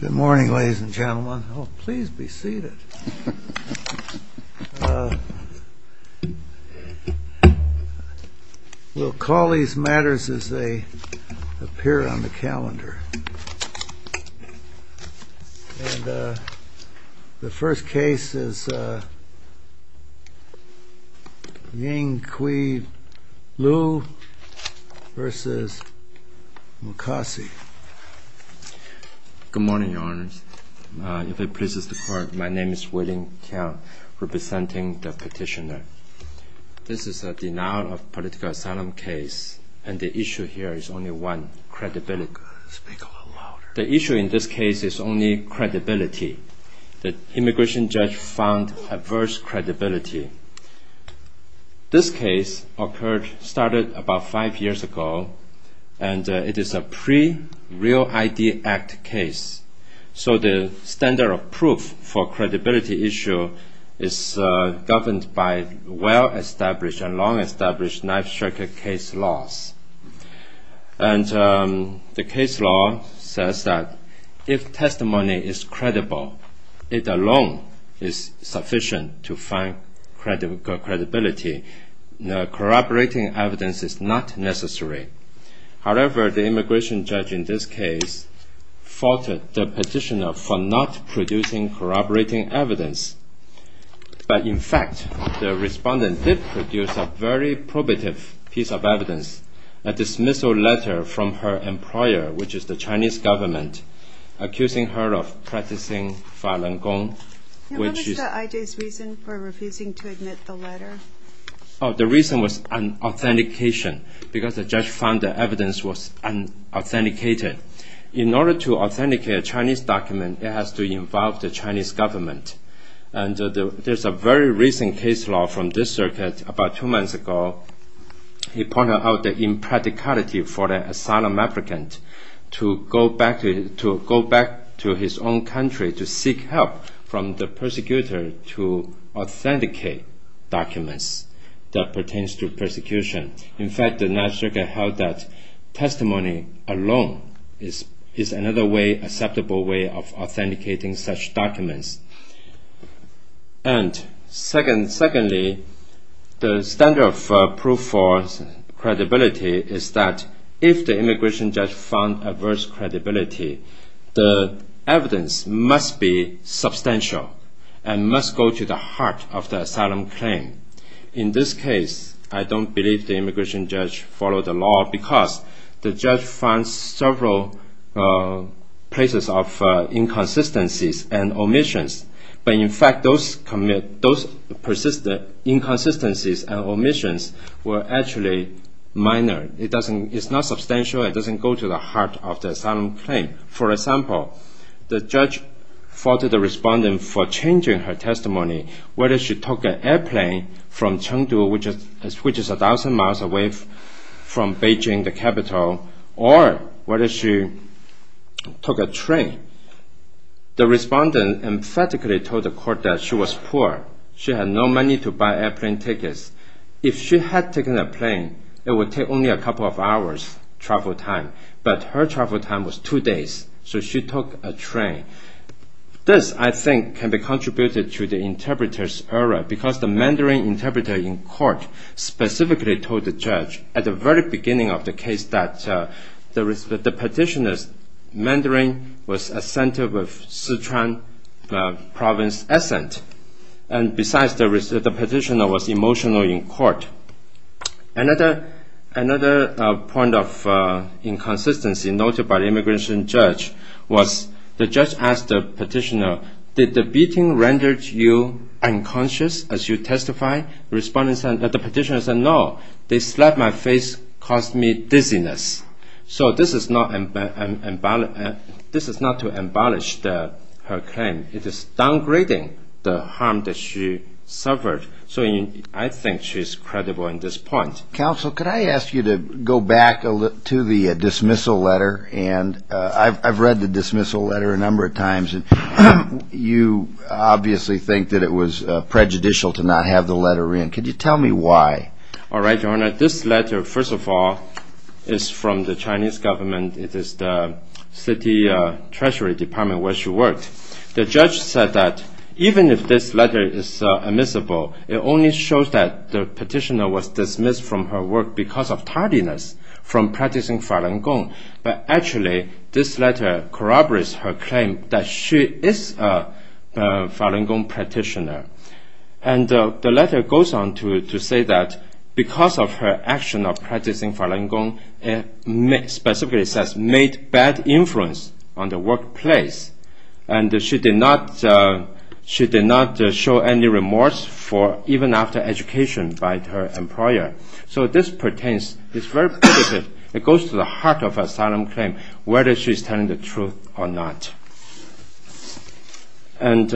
Good morning ladies and gentlemen. Oh, please be seated. We'll call these matters as they appear on the calendar. And the first case is Ying-Kui Liu v. Mukasey. Good morning, Your Honors. If it pleases the Court, my name is Wei-Ling Kiang, representing the petitioner. This is a denial of political asylum case, and the issue here is only one credibility. The issue in this case is only credibility. The immigration judge found adverse credibility. This case started about five years ago, and it is a pre-Real ID Act case. So the standard of proof for credibility issue is governed by well-established and long-established knife The case law says that if testimony is credible, it alone is sufficient to find credibility. Corroborating evidence is not necessary. However, the immigration judge in this case faulted the petitioner for not producing corroborating evidence. But in fact, the respondent did produce a very probative piece of evidence, a dismissal letter from her employer, which is the Chinese government, accusing her of practicing Falun Gong, which is... What was the IJ's reason for refusing to admit the letter? The reason was unauthentication, because the judge found the evidence was unauthenticated. In order to authenticate a Chinese document, it has to involve the Chinese government. There's a very recent case law from this circuit. About two months ago, he pointed out the impracticality for an asylum applicant to go back to his own country to seek help from the persecutor to authenticate documents that pertain to persecution. In fact, the National Circuit held that testimony alone is another acceptable way of authenticating such documents. And secondly, the standard of proof for credibility is that if the immigration judge found adverse credibility, the evidence must be substantial and must go to the heart of the asylum claim. In this case, I don't believe the immigration judge followed the law because the judge found several places of inconsistencies and omissions. But in fact, those inconsistencies and omissions were actually minor. It's not substantial. It doesn't go to the heart of the asylum claim. For example, the judge faulted the respondent for changing her testimony, whether she took an airplane from Chengdu, which is a thousand miles away from Beijing, the capital, or whether she took a train. The respondent emphatically told the court that she was poor. She had no money to buy airplane tickets. If she had taken a plane, it would take only a couple of hours travel time. But her travel time was two days. So she took a train. This, I because the Mandarin interpreter in court specifically told the judge at the very beginning of the case that the petitioner's Mandarin was a center of Sichuan province essence. And besides, the petitioner was emotional in court. Another point of inconsistency noted by the immigration judge was the judge asked the As you testify, the petitioner said, no, they slapped my face, caused me dizziness. So this is not to embellish her claim. It is downgrading the harm that she suffered. So I think she's credible in this point. Counsel, could I ask you to go back to the dismissal letter? And I've read the dismissal letter a number of times. And you obviously think that it was prejudicial to not have the letter in. Could you tell me why? All right, Your Honor. This letter, first of all, is from the Chinese government. It is the city treasury department where she worked. The judge said that even if this letter is admissible, it only shows that the petitioner was dismissed from her work because of tardiness from practicing Falun Gong. But actually, this letter corroborates her claim that she is a Falun Gong practitioner. And the letter goes on to say that because of her action of practicing Falun Gong, specifically it says, made bad influence on the workplace. And she did not show any remorse for even after education by her employer. So this pertains, it goes to the heart of her asylum claim, whether she's telling the truth or not. And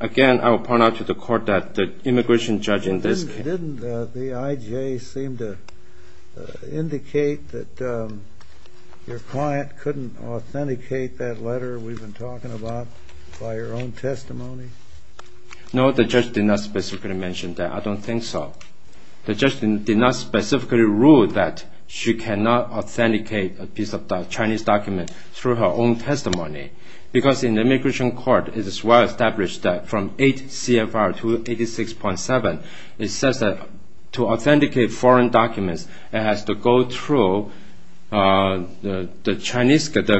again, I will point out to the court that the immigration judge in this case... Didn't the IJ seem to indicate that your client couldn't authenticate that letter we've been talking about by your own testimony? No, the judge did not specifically mention that. I don't think so. The judge did not specifically rule that she cannot authenticate a piece of Chinese document through her own testimony. Because in the immigration court, it is well established that from 8 CFR 286.7, it says that to authenticate foreign documents, it has to go through the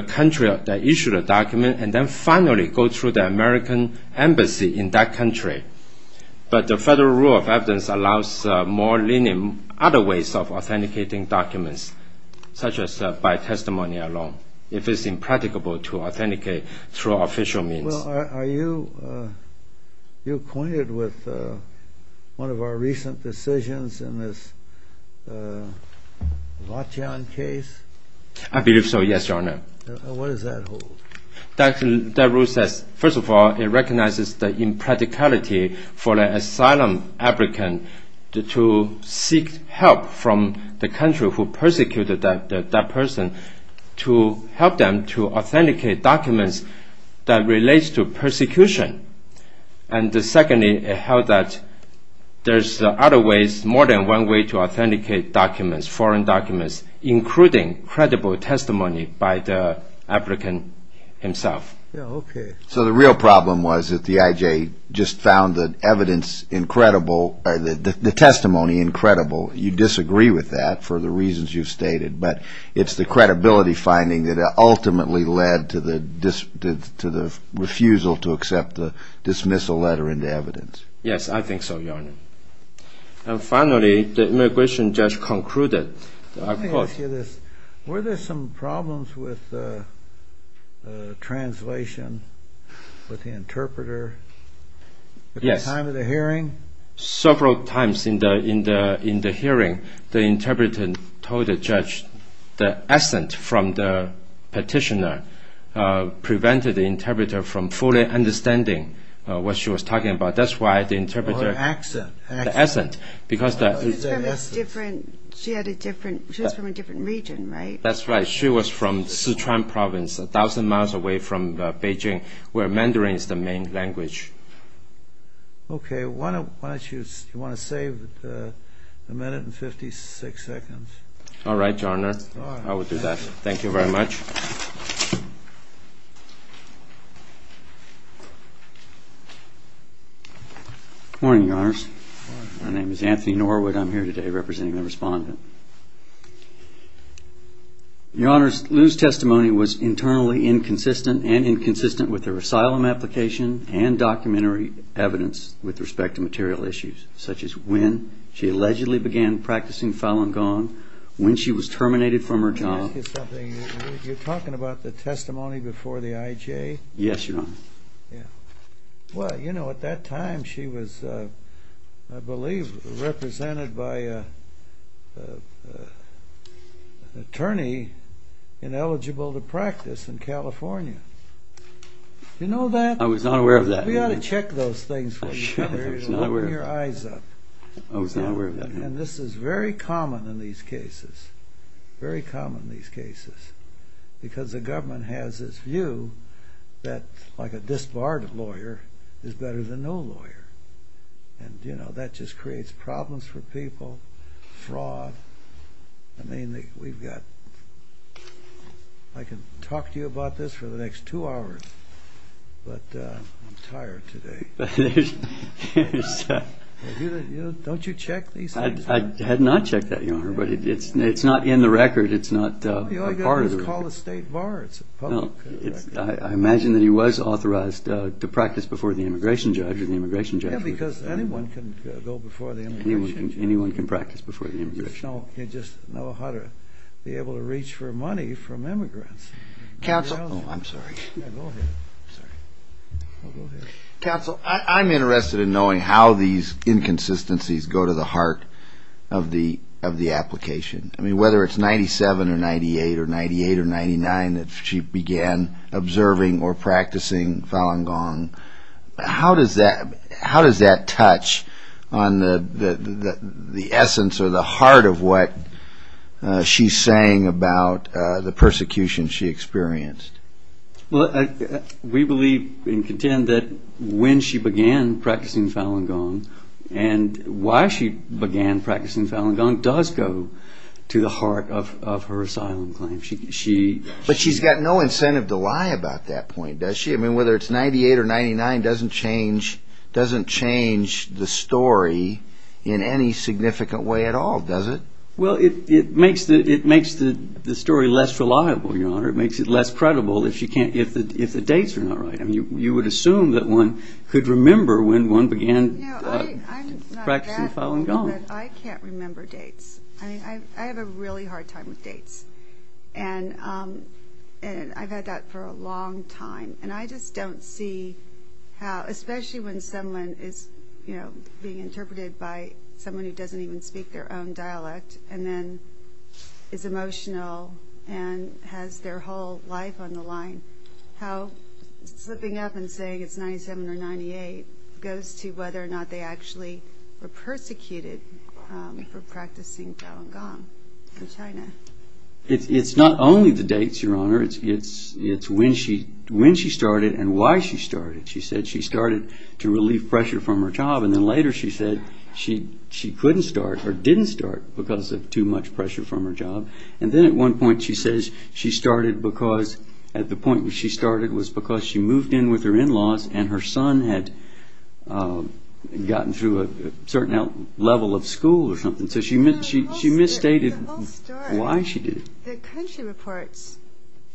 country that issued the document, and then finally go through the American embassy in that country. But the federal rule of evidence allows more lenient other ways of authenticating documents, such as by testimony alone, if it's impracticable to authenticate through official means. Are you acquainted with one of our recent decisions in this Vatian case? I believe so, yes, Your Honor. What does that hold? That rule says, first of all, it recognizes the impracticality for an asylum applicant to seek help from the country who persecuted that person to help them to authenticate documents that relate to persecution. And secondly, it held that there's other ways, more than one way to authenticate documents, foreign documents, including credible testimony by the applicant himself. So the real problem was that the IJ just found the testimony incredible. You disagree with that for the reasons you've stated, but it's the credibility finding that ultimately led to the refusal to accept the dismissal letter into evidence. Yes, I think so, Your Honor. And finally, the immigration judge concluded, I quote... Let me ask you this. Were there some problems with translation with the interpreter at the time of the hearing? Several times in the hearing, the interpreter told the judge the accent from the petitioner prevented the interpreter from fully understanding what she was talking about. That's why the interpreter... The accent. Because the... She had a different... She was from a different region, right? That's right. She was from Sichuan province, a thousand miles away from Beijing, where Mandarin is the main language. Okay. Why don't you... Do you want to save a minute and 56 seconds? All right, Your Honor. I will do that. Thank you very much. Good morning, Your Honors. My name is Anthony Norwood. I'm here today representing the respondent. Your Honors, Liu's testimony was internally inconsistent and inconsistent with her asylum application and documentary evidence with respect to material issues, such as when she allegedly began practicing Falun Gong, when she was terminated from her job... Let me ask you something. You're talking about the testimony before the IJ? Yes, Your Honor. Yeah. Well, you know, at that time she was, I believe, represented by an attorney ineligible to practice in California. You know that? I was not aware of that. We ought to check those things for you. I was not aware of that. Open your eyes up. I was not aware of that. And this is very common in these cases, very common in these cases, because the government has this view that, like a disbarred lawyer, is better than no lawyer. And, you know, that just creates problems for people, fraud. I mean, we've got... I can talk to you about this for the next two hours, but I'm tired today. Don't you check these things? I had not checked that, Your Honor, but it's not in the record. It's not a part of the record. All you've got to do is call the state bar. It's a public record. I imagine that he was authorized to practice before the immigration judge or the immigration judge. Yeah, because anyone can go before the immigration judge. Anyone can practice before the immigration judge. You just know how to be able to reach for money from immigrants. Counsel... Oh, I'm sorry. Yeah, go ahead. I'm sorry. Counsel, I'm interested in knowing how these inconsistencies go to the heart of the application. I mean, whether it's 97 or 98 or 98 or 99 that she began observing or practicing Falun Gong, how does that touch on the essence or the heart of what she's saying about the persecution she experienced? Well, we believe and contend that when she began practicing Falun Gong and why she began practicing Falun Gong does go to the heart of her asylum claim. But she's got no incentive to lie about that point, does she? I mean, whether it's 98 or 99 doesn't change the story in any significant way at all, does it? Well, it makes the story less reliable, Your Honor. It makes it less credible if the dates are not right. I mean, you would assume that one could remember when one began practicing Falun Gong. I can't remember dates. I mean, I have a really hard time with dates, and I've had that for a long time. And I just don't see how, especially when someone is, you know, being interpreted by someone who doesn't even speak their own dialect and then is emotional and has their whole life on the line, how slipping up and saying it's 97 or 98 goes to whether or not they actually were persecuted for practicing Falun Gong in China. It's not only the dates, Your Honor. It's when she started and why she started. She said she started to relieve pressure from her job, and then later she said she couldn't start or didn't start because of too much pressure from her job. And then at one point she says she started because, at the point where she started was because she moved in with her in-laws and her son had gotten through a certain level of school or something. So she misstated why she did it. The country reports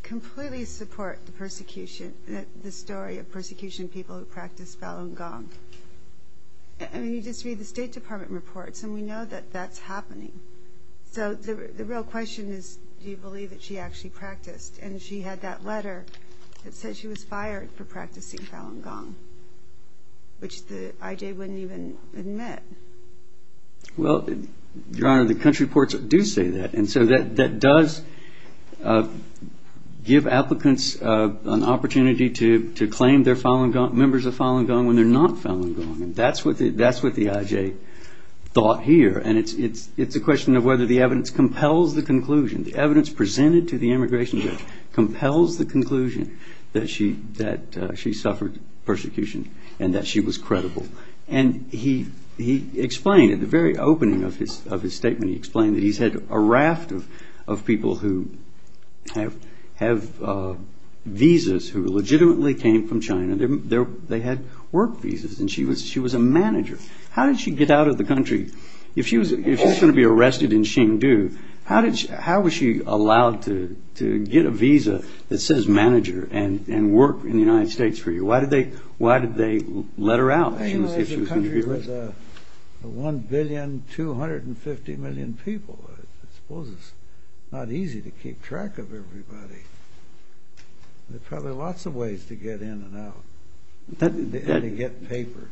completely support the story of persecution of people who practice Falun Gong. I mean, you just read the State Department reports, and we know that that's happening. So the real question is, do you believe that she actually practiced? And she had that letter that said she was fired for practicing Falun Gong, which the IJ wouldn't even admit. Well, Your Honor, the country reports do say that. And so that does give applicants an opportunity to claim they're members of Falun Gong when they're not Falun Gong. And that's what the IJ thought here. And it's a question of whether the evidence compels the conclusion. The evidence presented to the immigration judge compels the conclusion that she suffered persecution and that she was credible. And he explained at the very opening of his statement, he explained that he's had a raft of people who have visas who legitimately came from China. They had work visas, and she was a manager. How did she get out of the country? If she was going to be arrested in Hsinchu, how was she allowed to get a visa that says manager and work in the United States for you? Why did they let her out if she was going to be arrested? The country was 1,250,000,000 people. I suppose it's not easy to keep track of everybody. There are probably lots of ways to get in and out and to get papers.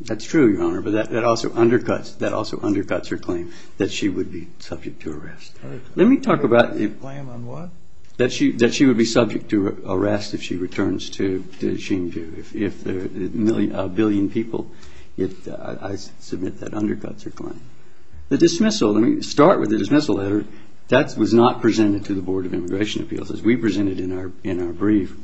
That's true, Your Honor, but that also undercuts her claim that she would be subject to arrest. Her claim on what? That she would be subject to arrest if she returns to Hsinchu. If a billion people, I submit that undercuts her claim. The dismissal, let me start with the dismissal letter. That was not presented to the Board of Immigration Appeals as we presented in our brief.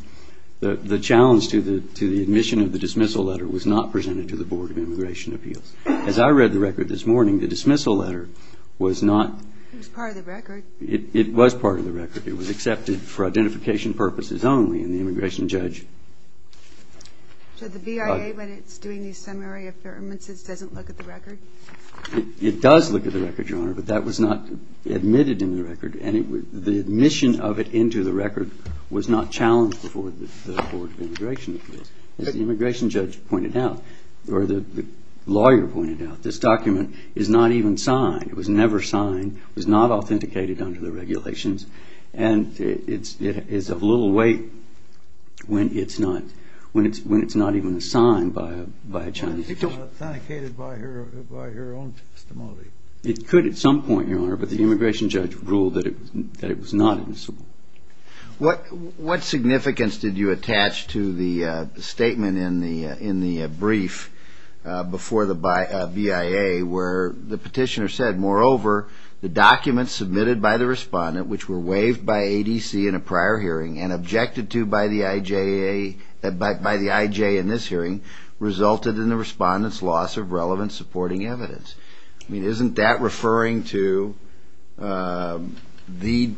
The challenge to the admission of the dismissal letter was not presented to the Board of Immigration Appeals. As I read the record this morning, the dismissal letter was not. It was part of the record. It was part of the record. It was accepted for identification purposes only, and the immigration judge. So the BIA, when it's doing these summary affirmances, doesn't look at the record? It does look at the record, Your Honor, but that was not admitted in the record, and the admission of it into the record was not challenged before the Board of Immigration Appeals. As the immigration judge pointed out, or the lawyer pointed out, this document is not even signed. It was never signed. It was not authenticated under the regulations, and it is of little weight when it's not even signed by a Chinese judge. It was not authenticated by her own testimony. It could at some point, Your Honor, but the immigration judge ruled that it was not admissible. What significance did you attach to the statement in the brief before the BIA where the petitioner said, moreover, the documents submitted by the respondent, which were waived by ADC in a prior hearing and objected to by the IJA in this hearing, resulted in the respondent's loss of relevant supporting evidence? I mean, isn't that referring to the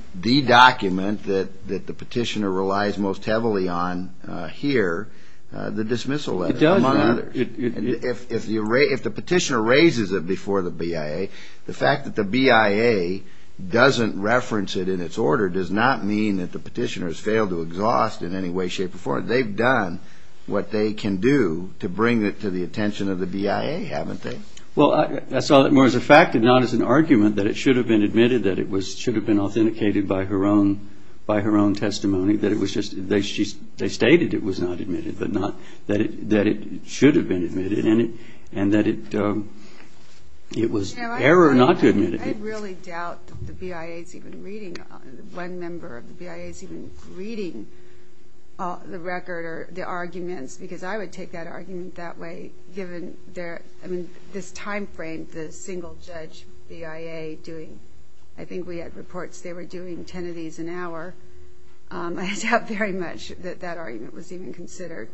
document that the petitioner relies most heavily on here, the dismissal letter, among others? If the petitioner raises it before the BIA, the fact that the BIA doesn't reference it in its order does not mean that the petitioner has failed to exhaust in any way, shape, or form. They've done what they can do to bring it to the attention of the BIA, haven't they? Well, I saw it more as a fact and not as an argument that it should have been admitted, that it should have been authenticated by her own testimony, that it was just they stated it was not admitted but not that it should have been admitted and that it was error not to admit it. I really doubt the BIA is even reading, one member of the BIA is even reading the record or the arguments because I would take that argument that way given this time frame the single-judge BIA doing. I think we had reports they were doing 10 of these an hour. I doubt very much that that argument was even considered.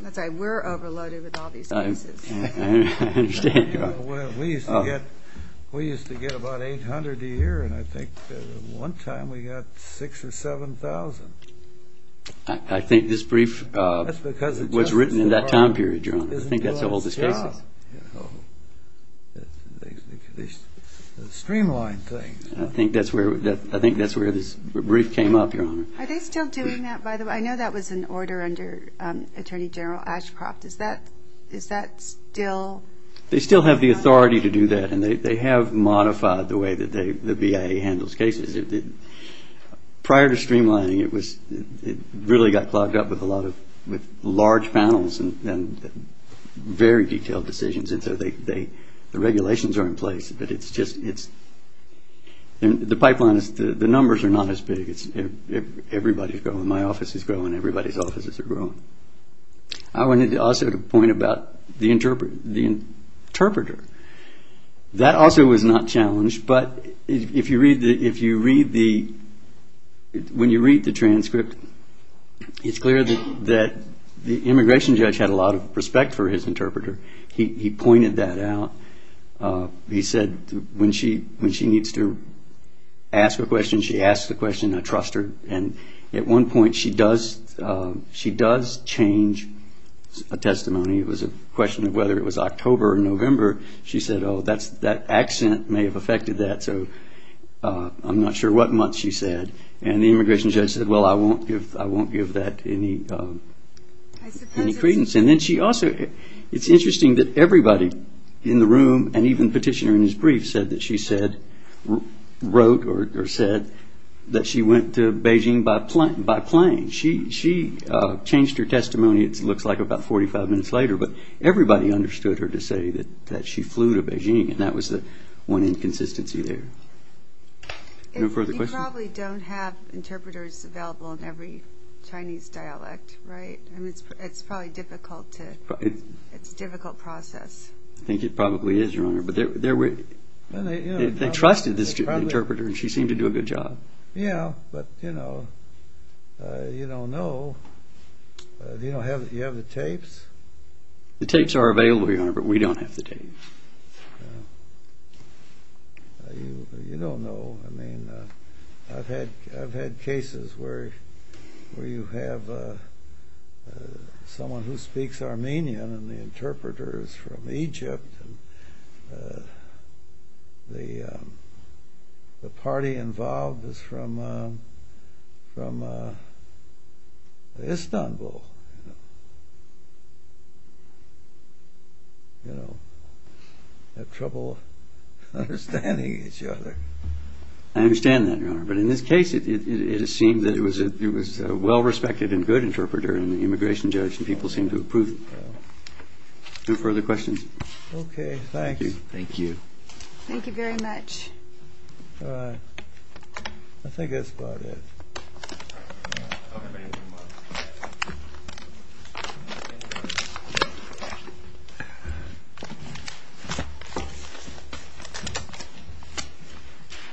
That's right, we're overloaded with all these cases. I understand. We used to get about 800 a year, and I think one time we got 6,000 or 7,000. I think this brief was written in that time period, Your Honor. I think that's the whole discrepancy. They streamline things. I think that's where this brief came up, Your Honor. Are they still doing that? I know that was an order under Attorney General Ashcroft. Is that still? They still have the authority to do that, and they have modified the way that the BIA handles cases. Prior to streamlining, it really got clogged up with large panels and very detailed decisions, and so the regulations are in place, but the numbers are not as big. Everybody's going. My office is going. Everybody's offices are going. I wanted also to point about the interpreter. That also was not challenged, but when you read the transcript, it's clear that the immigration judge had a lot of respect for his interpreter. He pointed that out. He said when she needs to ask a question, she asks a question. I trust her, and at one point she does change a testimony. It was a question of whether it was October or November. She said, oh, that accent may have affected that, so I'm not sure what month she said, and the immigration judge said, well, I won't give that any credence. It's interesting that everybody in the room, and even the petitioner in his brief, said that she wrote or said that she went to Beijing by plane. She changed her testimony, it looks like, about 45 minutes later, but everybody understood her to say that she flew to Beijing, and that was the one inconsistency there. You probably don't have interpreters available in every Chinese dialect, right? It's probably a difficult process. I think it probably is, Your Honor, but they trusted the interpreter, and she seemed to do a good job. Yeah, but you don't know. Do you have the tapes? The tapes are available, Your Honor, but we don't have the tapes. You don't know. I mean, I've had cases where you have someone who speaks Armenian and the interpreter is from Egypt, and the party involved is from Istanbul. You know, they have trouble understanding each other. I understand that, Your Honor, but in this case, it seemed that it was a well-respected and good interpreter in the immigration judge, and people seemed to approve. No further questions? Okay, thanks. Thank you. Thank you very much. All right. I think that's about it. Okay, thank you, Your Honor.